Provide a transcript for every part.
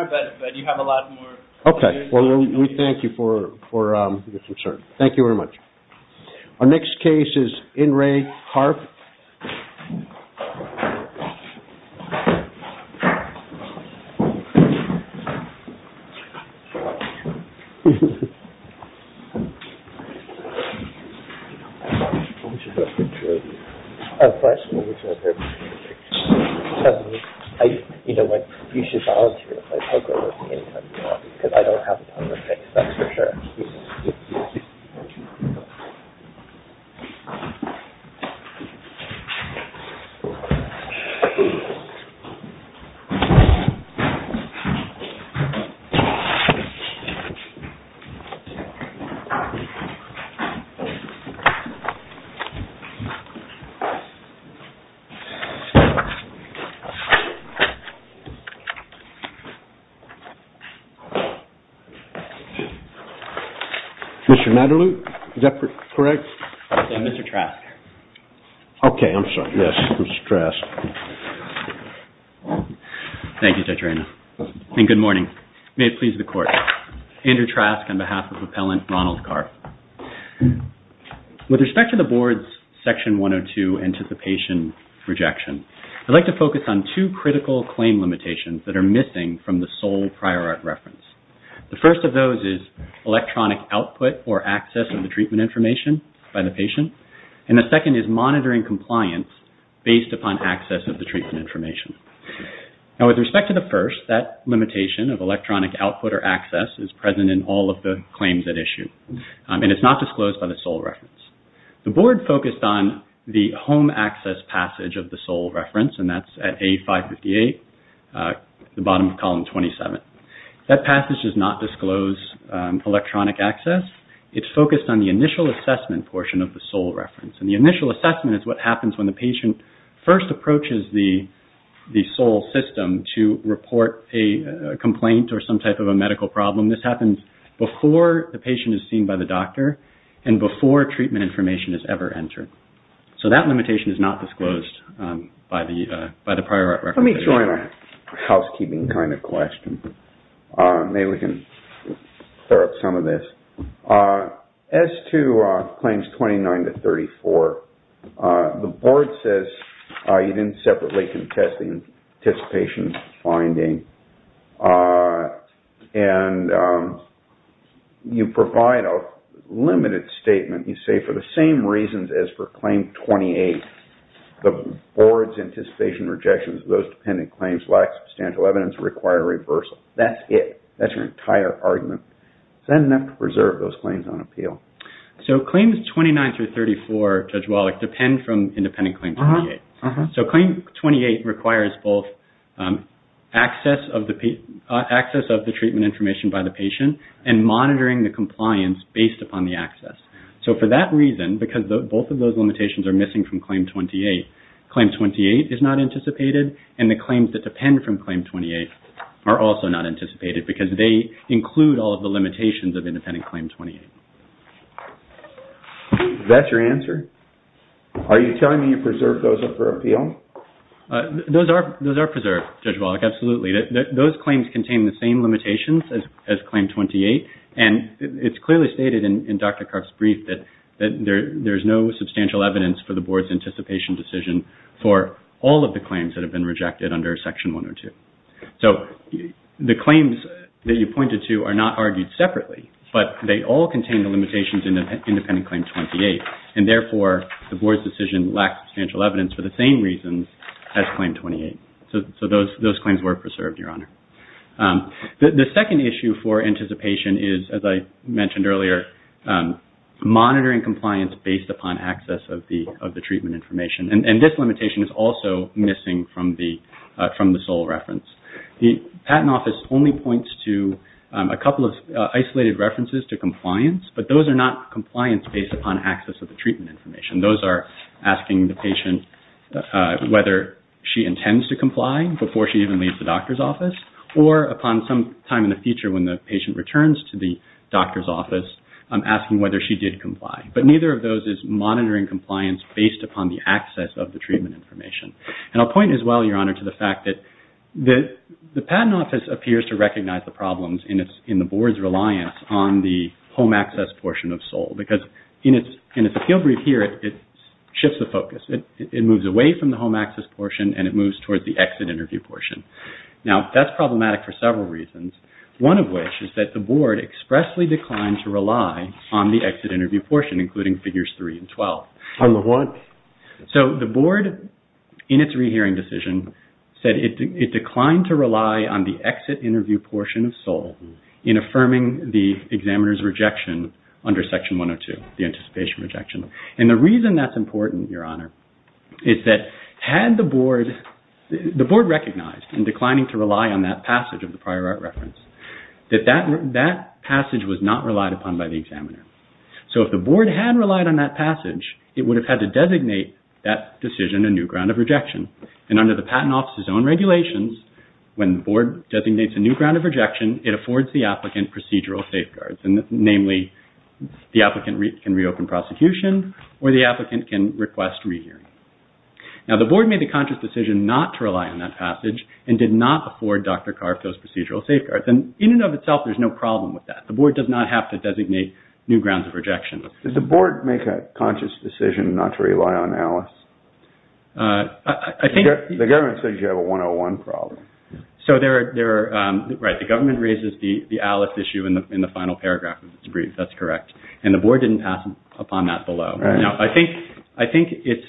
Okay, well we thank you for your concern. Thank you very much. Our next case is In Re Karpf. You know what, you should volunteer to play poker with me any time you want, because I don't have the time for tricks, that's for sure. Mr. Mataloup, is that correct? Okay, I'm sorry. Yes, Mr. Trask. Thank you, Judge Reina. And good morning. May it please the Court. Andrew Trask on behalf of Appellant Ronald Karpf. With respect to the Board's Section 102 Anticipation Rejection, I'd like to focus on two critical claim limitations that are missing from the sole prior art reference. The first of those is electronic output or access of the treatment information by the patient. And the second is monitoring compliance based upon access of the treatment information. Now with respect to the first, that limitation of electronic output or access is present in all of the claims at issue. And it's not disclosed by the sole reference. The Board focused on the home access passage of the sole reference, and that's at A558, the bottom of column 27. That passage does not disclose electronic access. It's focused on the initial assessment portion of the sole reference. And the initial assessment is what happens when the patient first approaches the sole system to report a complaint or some type of a medical problem. This happens before the patient is seen by the doctor and before treatment information is ever entered. So that limitation is not disclosed by the prior art reference. Let me join a housekeeping kind of question. Maybe we can clear up some of this. As to claims 29 to 34, the Board says you didn't separately contest the anticipation finding. And you provide a limited statement. You say for the same reasons as for claim 28, the Board's anticipation rejections of those dependent claims lack substantial evidence or require reversal. That's it. That's your entire argument. Is that enough to preserve those claims on appeal? So claims 29 through 34, Judge Wallach, depend from independent claim 28. So claim 28 requires both access of the treatment information by the patient and monitoring the compliance based upon the access. So for that reason, because both of those limitations are missing from claim 28, claim 28 is not anticipated. And the claims that depend from claim 28 are also not anticipated because they include all of the limitations of independent claim 28. That's your answer? Are you telling me you preserved those for appeal? Those are preserved, Judge Wallach, absolutely. Those claims contain the same limitations as claim 28. And it's clearly stated in Dr. Karp's brief that there's no substantial evidence for the Board's anticipation decision for all of the claims that have been rejected under section 102. So the claims that you pointed to are not argued separately, but they all contain the limitations in independent claim 28. And therefore, the Board's decision lacks substantial evidence for the same reasons as claim 28. So those claims were preserved, Your Honor. The second issue for anticipation is, as I mentioned earlier, monitoring compliance based upon access of the treatment information. And this limitation is also missing from the sole reference. The Patent Office only points to a couple of isolated references to compliance, but those are not compliance based upon access of the treatment information. And those are asking the patient whether she intends to comply before she even leaves the doctor's office, or upon some time in the future when the patient returns to the doctor's office, asking whether she did comply. But neither of those is monitoring compliance based upon the access of the treatment information. And I'll point as well, Your Honor, to the fact that the Patent Office appears to recognize the problems in the Board's reliance on the home access portion of SOLE. Because in its appeal brief here, it shifts the focus. It moves away from the home access portion, and it moves towards the exit interview portion. Now, that's problematic for several reasons, one of which is that the Board expressly declined to rely on the exit interview portion, including Figures 3 and 12. On the what? So, the Board, in its rehearing decision, said it declined to rely on the exit interview portion of SOLE in affirming the examiner's rejection under Section 102, the anticipation rejection. And the reason that's important, Your Honor, is that had the Board recognized and declining to rely on that passage of the prior art reference, that that passage was not relied upon by the examiner. So, if the Board had relied on that passage, it would have had to designate that decision a new ground of rejection. And under the Patent Office's own regulations, when the Board designates a new ground of rejection, it affords the applicant procedural safeguards. Namely, the applicant can reopen prosecution, or the applicant can request rehearing. Now, the Board made the conscious decision not to rely on that passage and did not afford Dr. Karff those procedural safeguards. And in and of itself, there's no problem with that. The Board does not have to designate new grounds of rejection. Did the Board make a conscious decision not to rely on ALICE? The government says you have a 101 problem. So, right, the government raises the ALICE issue in the final paragraph of its brief. That's correct. And the Board didn't pass upon that below. Now, I think it's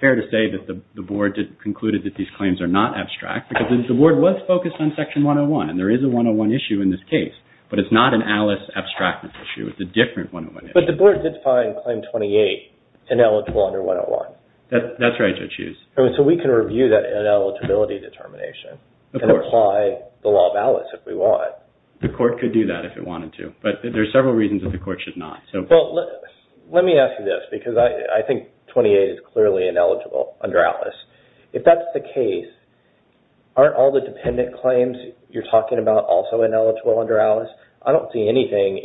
fair to say that the Board concluded that these claims are not abstract because the Board was focused on Section 101. And there is a 101 issue in this case, but it's not an ALICE abstract issue. It's a different 101 issue. But the Board did find Claim 28 ineligible under 101. That's right, Judge Hughes. So, we can review that ineligibility determination and apply the law of ALICE if we want. The Court could do that if it wanted to, but there are several reasons that the Court should not. Well, let me ask you this because I think 28 is clearly ineligible under ALICE. If that's the case, aren't all the dependent claims you're talking about also ineligible under ALICE? I don't see anything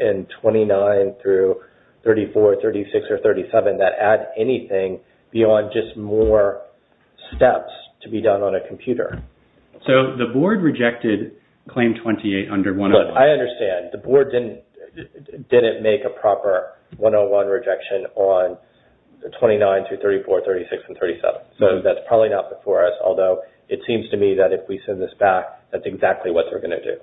in 29 through 34, 36, or 37 that add anything beyond just more steps to be done on a computer. So, the Board rejected Claim 28 under 101. I understand. The Board didn't make a proper 101 rejection on 29 through 34, 36, and 37. So, that's probably not before us. Although, it seems to me that if we send this back, that's exactly what they're going to do.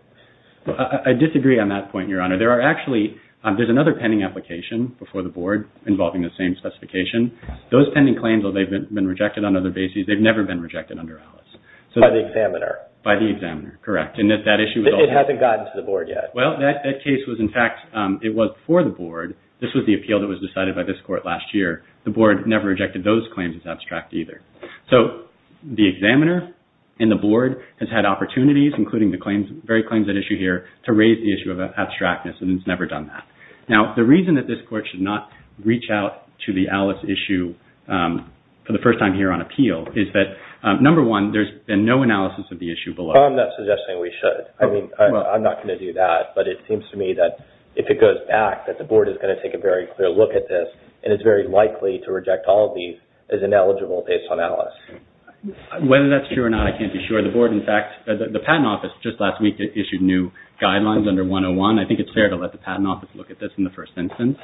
I disagree on that point, Your Honor. There are actually – there's another pending application before the Board involving the same specification. Those pending claims, though, they've been rejected on other bases. They've never been rejected under ALICE. By the examiner. By the examiner, correct. It hasn't gotten to the Board yet. Well, that case was, in fact, it was before the Board. This was the appeal that was decided by this Court last year. The Board never rejected those claims as abstract either. So, the examiner and the Board has had opportunities, including the very claims at issue here, to raise the issue of abstractness, and it's never done that. Now, the reason that this Court should not reach out to the ALICE issue for the first time here on appeal is that, number one, there's been no analysis of the issue below. I'm not suggesting we should. I mean, I'm not going to do that, but it seems to me that if it goes back, that the Board is going to take a very clear look at this, and it's very likely to reject all of these as ineligible based on ALICE. Whether that's true or not, I can't be sure. The Board, in fact – the Patent Office just last week issued new guidelines under 101. I think it's fair to let the Patent Office look at this in the first instance.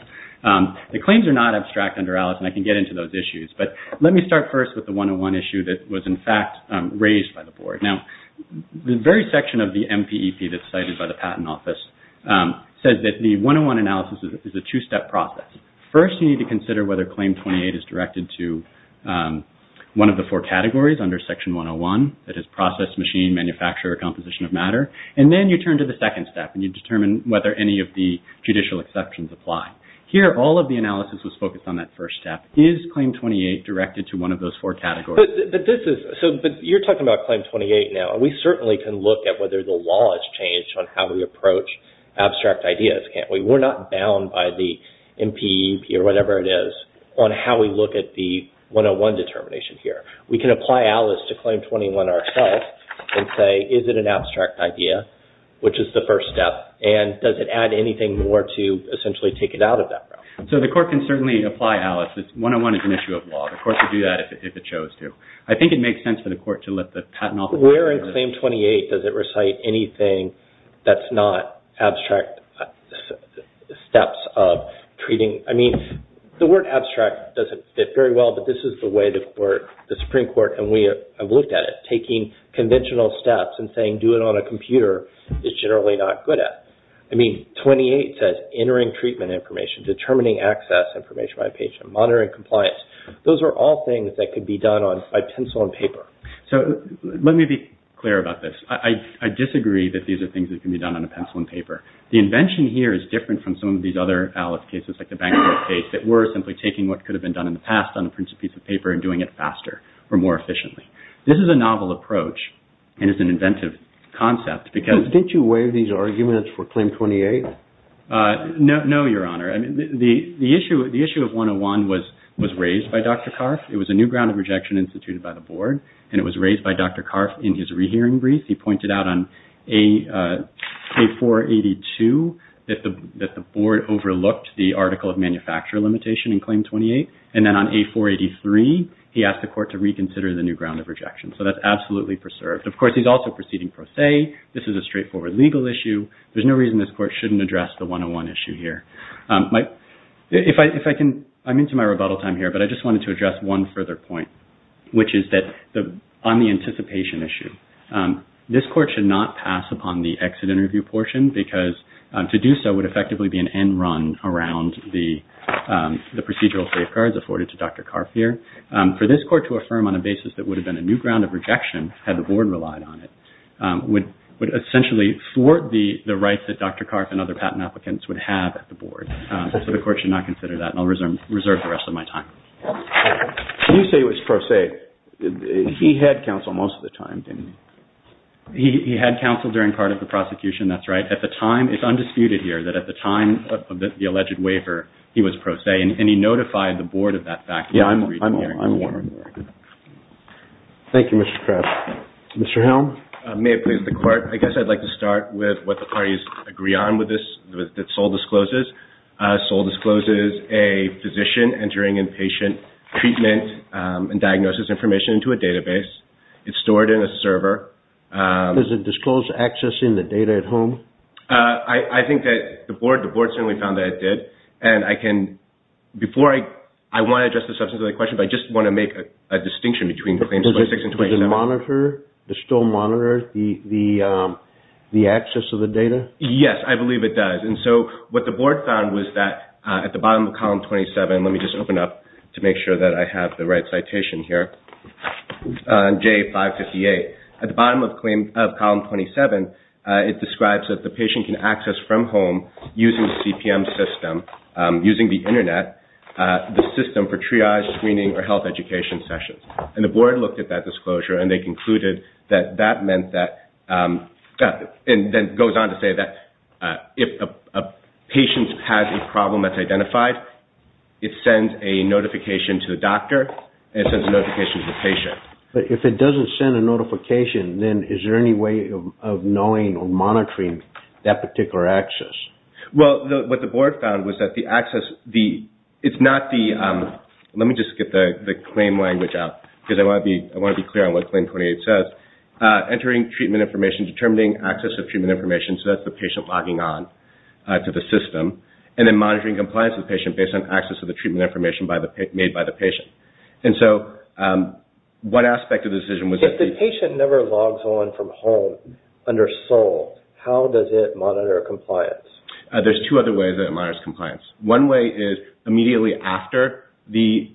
The claims are not abstract under ALICE, and I can get into those issues, but let me start first with the 101 issue that was, in fact, raised by the Board. Now, the very section of the MPEP that's cited by the Patent Office says that the 101 analysis is a two-step process. First, you need to consider whether Claim 28 is directed to one of the four categories under Section 101, that is process, machine, manufacturer, or composition of matter. And then you turn to the second step, and you determine whether any of the judicial exceptions apply. Here, all of the analysis was focused on that first step. Is Claim 28 directed to one of those four categories? But you're talking about Claim 28 now. We certainly can look at whether the law has changed on how we approach abstract ideas, can't we? We're not bound by the MPEP or whatever it is on how we look at the 101 determination here. We can apply ALICE to Claim 21 ourselves and say, is it an abstract idea, which is the first step, and does it add anything more to essentially take it out of that realm? So, the Court can certainly apply ALICE. 101 is an issue of law. The Court could do that if it chose to. I think it makes sense for the Court to let the Patent Office... Where in Claim 28 does it recite anything that's not abstract steps of treating... I mean, the word abstract doesn't fit very well, but this is the way the Supreme Court and we have looked at it, taking conventional steps and saying, do it on a computer, is generally not good at. I mean, 28 says entering treatment information, determining access information by a patient, monitoring compliance. Those are all things that could be done by pencil and paper. So, let me be clear about this. I disagree that these are things that can be done on a pencil and paper. The invention here is different from some of these other ALICE cases, like the bankruptcy case, that were simply taking what could have been done in the past on a piece of paper and doing it faster or more efficiently. This is a novel approach and is an inventive concept because... Didn't you waive these arguments for Claim 28? No, Your Honor. The issue of 101 was raised by Dr. Karff. It was a new ground of rejection instituted by the Board, and it was raised by Dr. Karff in his rehearing brief. He pointed out on A482 that the Board overlooked the article of manufacturer limitation in Claim 28, and then on A483, he asked the Court to reconsider the new ground of rejection. So, that's absolutely preserved. Of course, he's also proceeding pro se. This is a straightforward legal issue. There's no reason this Court shouldn't address the 101 issue here. I'm into my rebuttal time here, but I just wanted to address one further point, which is that on the anticipation issue, this Court should not pass upon the exit interview portion because to do so would effectively be an end run around the procedural safeguards afforded to Dr. Karff here. For this Court to affirm on a basis that would have been a new ground of rejection had the Board relied on it would essentially thwart the rights that Dr. Karff and other patent applicants would have at the Board. So, the Court should not consider that, and I'll reserve the rest of my time. You say it was pro se. He had counsel most of the time, didn't he? He had counsel during part of the prosecution, that's right. It's undisputed here that at the time of the alleged waiver, he was pro se, and he notified the Board of that fact. Thank you, Mr. Karff. Mr. Helm? May it please the Court, I guess I'd like to start with what the parties agree on with this, that Sol discloses. Sol discloses a physician entering inpatient treatment and diagnosis information into a database. It's stored in a server. Does it disclose accessing the data at home? I think that the Board certainly found that it did, and I can, before I want to address the substance of the question, but I just want to make a distinction between claims 26 and 27. Does it monitor, does it still monitor the access of the data? Yes, I believe it does, and so what the Board found was that at the bottom of column 27, let me just open up to make sure that I have the right citation here, J558. At the bottom of column 27, it describes that the patient can access from home using the CPM system, using the Internet, the system for triage, screening, or health education sessions. And the Board looked at that disclosure, and they concluded that that meant that, and then goes on to say that if a patient has a problem that's identified, it sends a notification to the doctor, and it sends a notification to the patient. But if it doesn't send a notification, then is there any way of knowing or monitoring that particular access? Well, what the Board found was that the access, it's not the, let me just get the claim language out, because I want to be clear on what claim 28 says. Entering treatment information, determining access of treatment information, so that's the patient logging on to the system, and then monitoring compliance with the patient based on access to the treatment information made by the patient. And so one aspect of the decision was that the- If the patient never logs on from home under SOL, how does it monitor compliance? There's two other ways that it monitors compliance. One way is immediately after the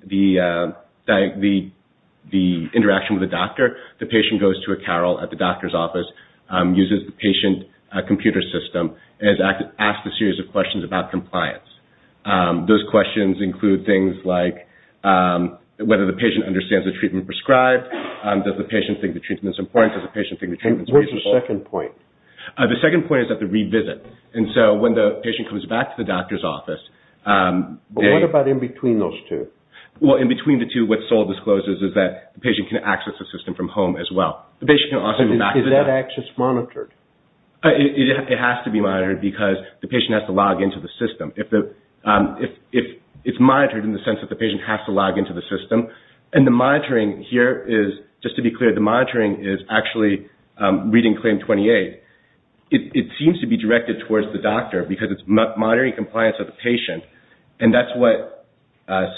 interaction with the doctor, the patient goes to a carol at the doctor's office, uses the patient computer system, and is asked a series of questions about compliance. Those questions include things like whether the patient understands the treatment prescribed, does the patient think the treatment's important, does the patient think the treatment's reasonable. And where's the second point? The second point is at the revisit. And so when the patient comes back to the doctor's office- But what about in between those two? Well, in between the two, what SOL discloses is that the patient can access the system from home as well. Is that access monitored? It has to be monitored because the patient has to log into the system. It's monitored in the sense that the patient has to log into the system. And the monitoring here is- Just to be clear, the monitoring is actually reading claim 28. It seems to be directed towards the doctor because it's monitoring compliance of the patient. And that's what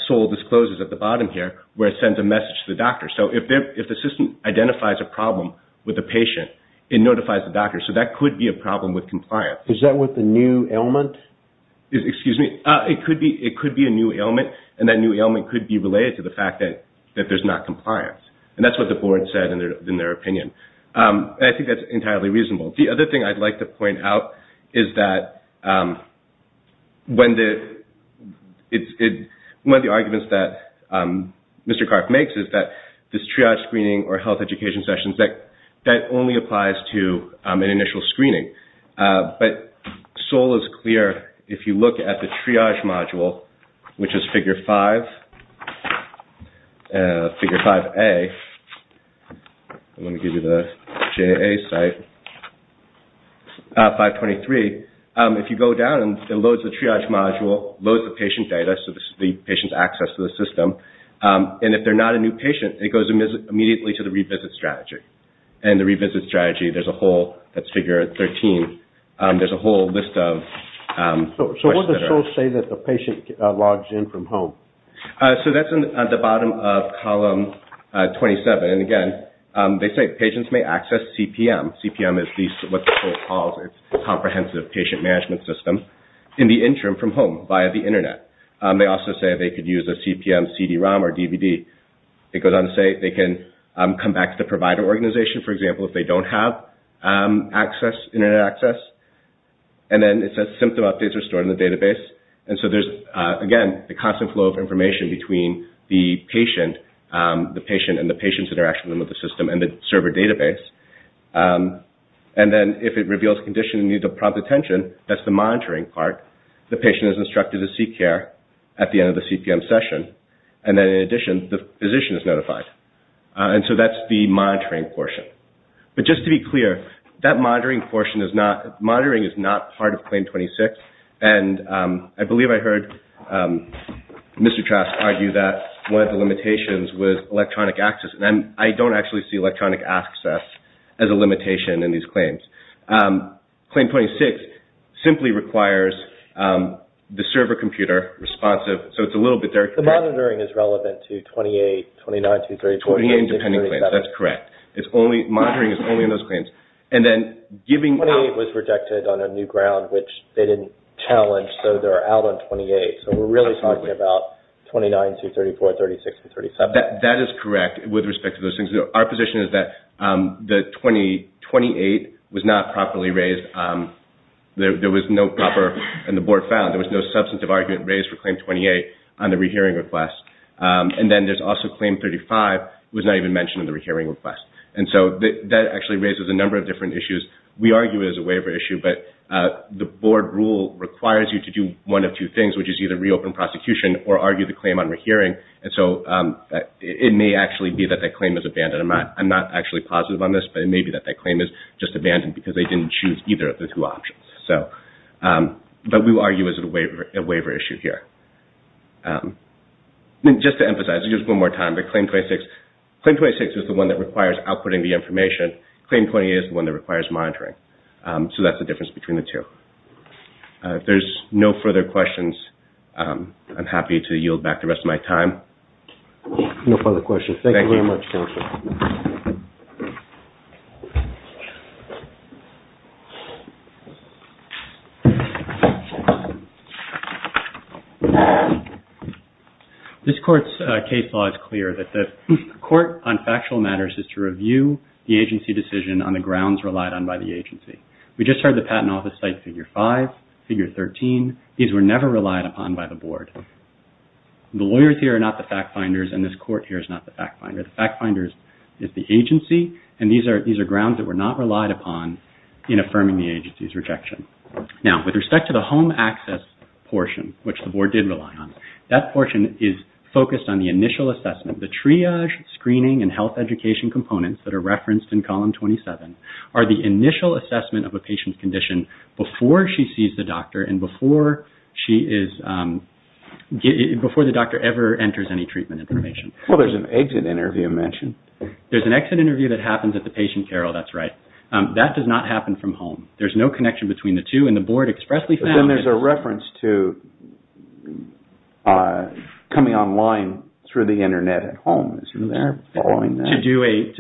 SOL discloses at the bottom here, where it sends a message to the doctor. So if the system identifies a problem with the patient, it notifies the doctor. So that could be a problem with compliance. Is that with the new ailment? Excuse me? It could be a new ailment. And that new ailment could be related to the fact that there's not compliance. And that's what the board said in their opinion. And I think that's entirely reasonable. The other thing I'd like to point out is that one of the arguments that Mr. Karp makes is that this triage screening or health education sessions, that only applies to an initial screening. But SOL is clear. If you look at the triage module, which is figure 5A-I'm going to give you the JA site-523. If you go down, it loads the triage module, loads the patient data, so the patient's access to the system. And if they're not a new patient, it goes immediately to the revisit strategy. And the revisit strategy, there's a whole-that's figure 13-there's a whole list of questions. So what does SOL say that the patient logs in from home? So that's at the bottom of column 27. And, again, they say patients may access CPM. CPM is what the board calls its comprehensive patient management system in the interim from home via the Internet. They also say they could use a CPM CD-ROM or DVD. It goes on to say they can come back to the provider organization, for example, if they don't have Internet access. And then it says symptom updates are stored in the database. And so there's, again, the constant flow of information between the patient and the patient's interaction with the system and the server database. And then if it reveals conditions that need to prompt attention, that's the monitoring part. The patient is instructed to seek care at the end of the CPM session. And then, in addition, the physician is notified. And so that's the monitoring portion. But just to be clear, that monitoring portion is not-monitoring is not part of Claim 26. And I believe I heard Mr. Trask argue that one of the limitations was electronic access. And I don't actually see electronic access as a limitation in these claims. Claim 26 simply requires the server computer responsive. So it's a little bit there. The monitoring is relevant to 28, 29, 23, 24, 26, 27. 28 and depending claims. That's correct. Monitoring is only in those claims. And then giving- 28 was rejected on a new ground, which they didn't challenge, so they're out on 28. So we're really talking about 29, 234, 36, and 37. That is correct with respect to those things. Our position is that 28 was not properly raised. There was no proper-and the Board found there was no substantive argument raised for Claim 28 on the rehearing request. And then there's also Claim 35 was not even mentioned in the rehearing request. And so that actually raises a number of different issues. We argue it as a waiver issue, but the Board rule requires you to do one of two things, which is either reopen prosecution or argue the claim on rehearing. And so it may actually be that that claim is abandoned. I'm not actually positive on this, but it may be that that claim is just abandoned because they didn't choose either of the two options. But we argue it as a waiver issue here. Just to emphasize, just one more time, but Claim 26 is the one that requires outputting the information. Claim 28 is the one that requires monitoring. So that's the difference between the two. If there's no further questions, I'm happy to yield back the rest of my time. No further questions. Thank you very much, Counselor. This Court's case law is clear that the court on factual matters is to review the agency decision on the grounds relied on by the agency. We just heard the Patent Office cite Figure 5, Figure 13. These were never relied upon by the Board. The lawyers here are not the fact finders, and this Court here is not the fact finder. The fact finder is the agency, and these are grounds that were not relied upon in affirming the agency's rejection. Now, with respect to the home access portion, which the Board did rely on, that portion is focused on the initial assessment. The triage, screening, and health education components that are referenced in Column 27 are the initial assessment of a patient's condition before she sees the doctor and before the doctor ever enters any treatment information. Well, there's an exit interview mentioned. There's an exit interview that happens at the patient care, oh, that's right. That does not happen from home. There's no connection between the two, and the Board expressly found... But then there's a reference to coming online through the Internet at home. They're following that.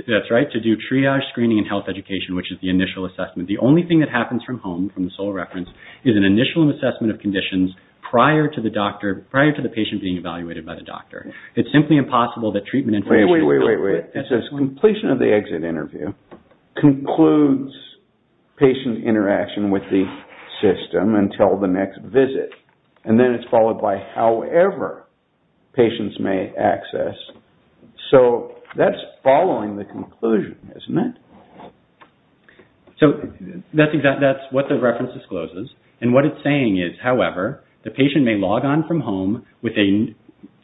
That's right, to do triage, screening, and health education, which is the initial assessment. The only thing that happens from home, from the sole reference, is an initial assessment of conditions prior to the patient being evaluated by the doctor. It's simply impossible that treatment information... Wait, wait, wait, wait, wait. It says completion of the exit interview concludes patient interaction with the system until the next visit, and then it's followed by however patients may access. So, that's following the conclusion, isn't it? So, that's what the reference discloses. And what it's saying is, however, the patient may log on from home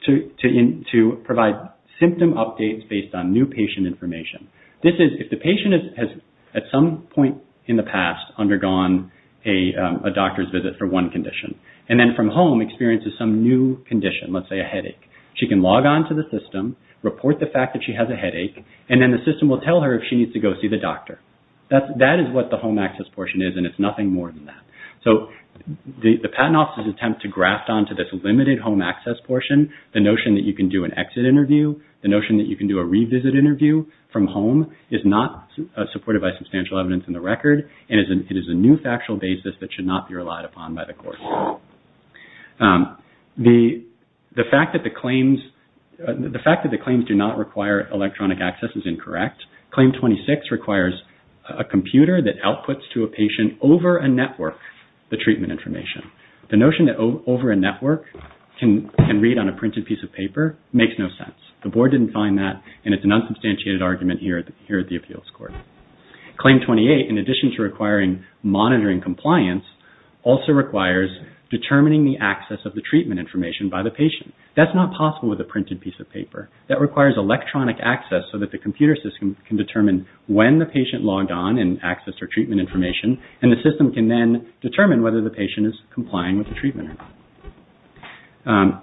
to provide symptom updates based on new patient information. This is if the patient has at some point in the past undergone a doctor's visit for one condition, and then from home experiences some new condition, let's say a headache. She can log on to the system, report the fact that she has a headache, and then the system will tell her if she needs to go see the doctor. That is what the home access portion is, and it's nothing more than that. So, the patent office's attempt to graft onto this limited home access portion the notion that you can do an exit interview, the notion that you can do a revisit interview from home is not supported by substantial evidence in the record, and it is a new factual basis that should not be relied upon by the court. The fact that the claims do not require electronic access is incorrect. Claim 26 requires a computer that outputs to a patient over a network the treatment information. The notion that over a network can read on a printed piece of paper makes no sense. The board didn't find that, and it's an unsubstantiated argument here at the appeals court. Claim 28, in addition to requiring monitoring compliance, also requires determining the access of the treatment information by the patient. That's not possible with a printed piece of paper. That requires electronic access so that the computer system can determine when the patient logged on and accessed her treatment information, and the system can then determine whether the patient is complying with the treatment or not.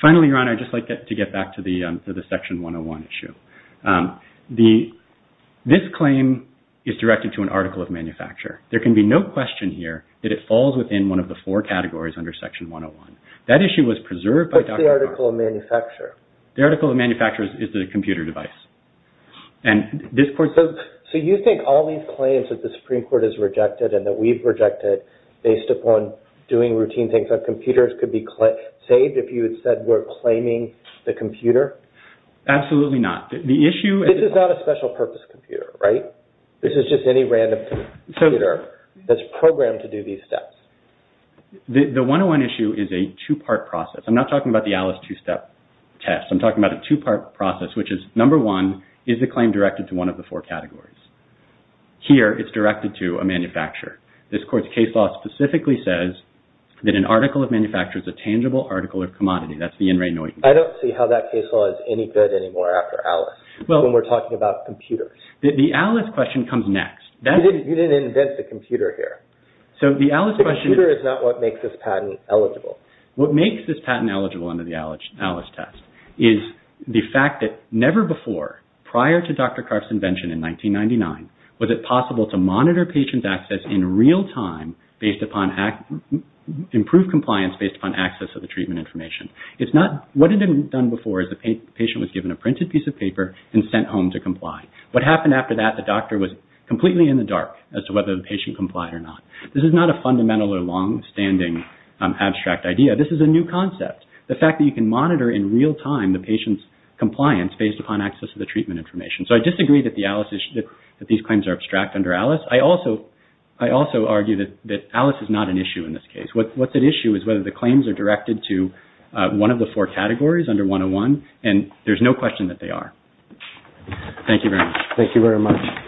Finally, Your Honor, I'd just like to get back to the Section 101 issue. This claim is directed to an article of manufacture. There can be no question here that it falls within one of the four categories under Section 101. That issue was preserved by Dr. Cohn. What's the article of manufacture? The article of manufacture is the computer device. So you think all these claims that the Supreme Court has rejected and that we've rejected, based upon doing routine things on computers, could be saved if you had said we're claiming the computer? Absolutely not. This is not a special purpose computer, right? This is just any random computer that's programmed to do these steps. The 101 issue is a two-part process. I'm not talking about the Alice two-step test. I'm talking about a two-part process, which is, number one, is the claim directed to one of the four categories? Here, it's directed to a manufacturer. This Court's case law specifically says that an article of manufacture is a tangible article of commodity. That's the In re Noit. I don't see how that case law is any good anymore after Alice when we're talking about computers. The Alice question comes next. You didn't invent the computer here. The computer is not what makes this patent eligible. What makes this patent eligible under the Alice test is the fact that never before, prior to Dr. Karff's invention in 1999, was it possible to monitor patients' access in real time, improve compliance based upon access of the treatment information. What had been done before is the patient was given a printed piece of paper and sent home to comply. What happened after that, the doctor was completely in the dark as to whether the patient complied or not. This is not a fundamental or longstanding abstract idea. This is a new concept, the fact that you can monitor in real time the patient's compliance based upon access to the treatment information. So I disagree that these claims are abstract under Alice. I also argue that Alice is not an issue in this case. What's at issue is whether the claims are directed to one of the four categories under 101, and there's no question that they are. Thank you very much. Thank you very much.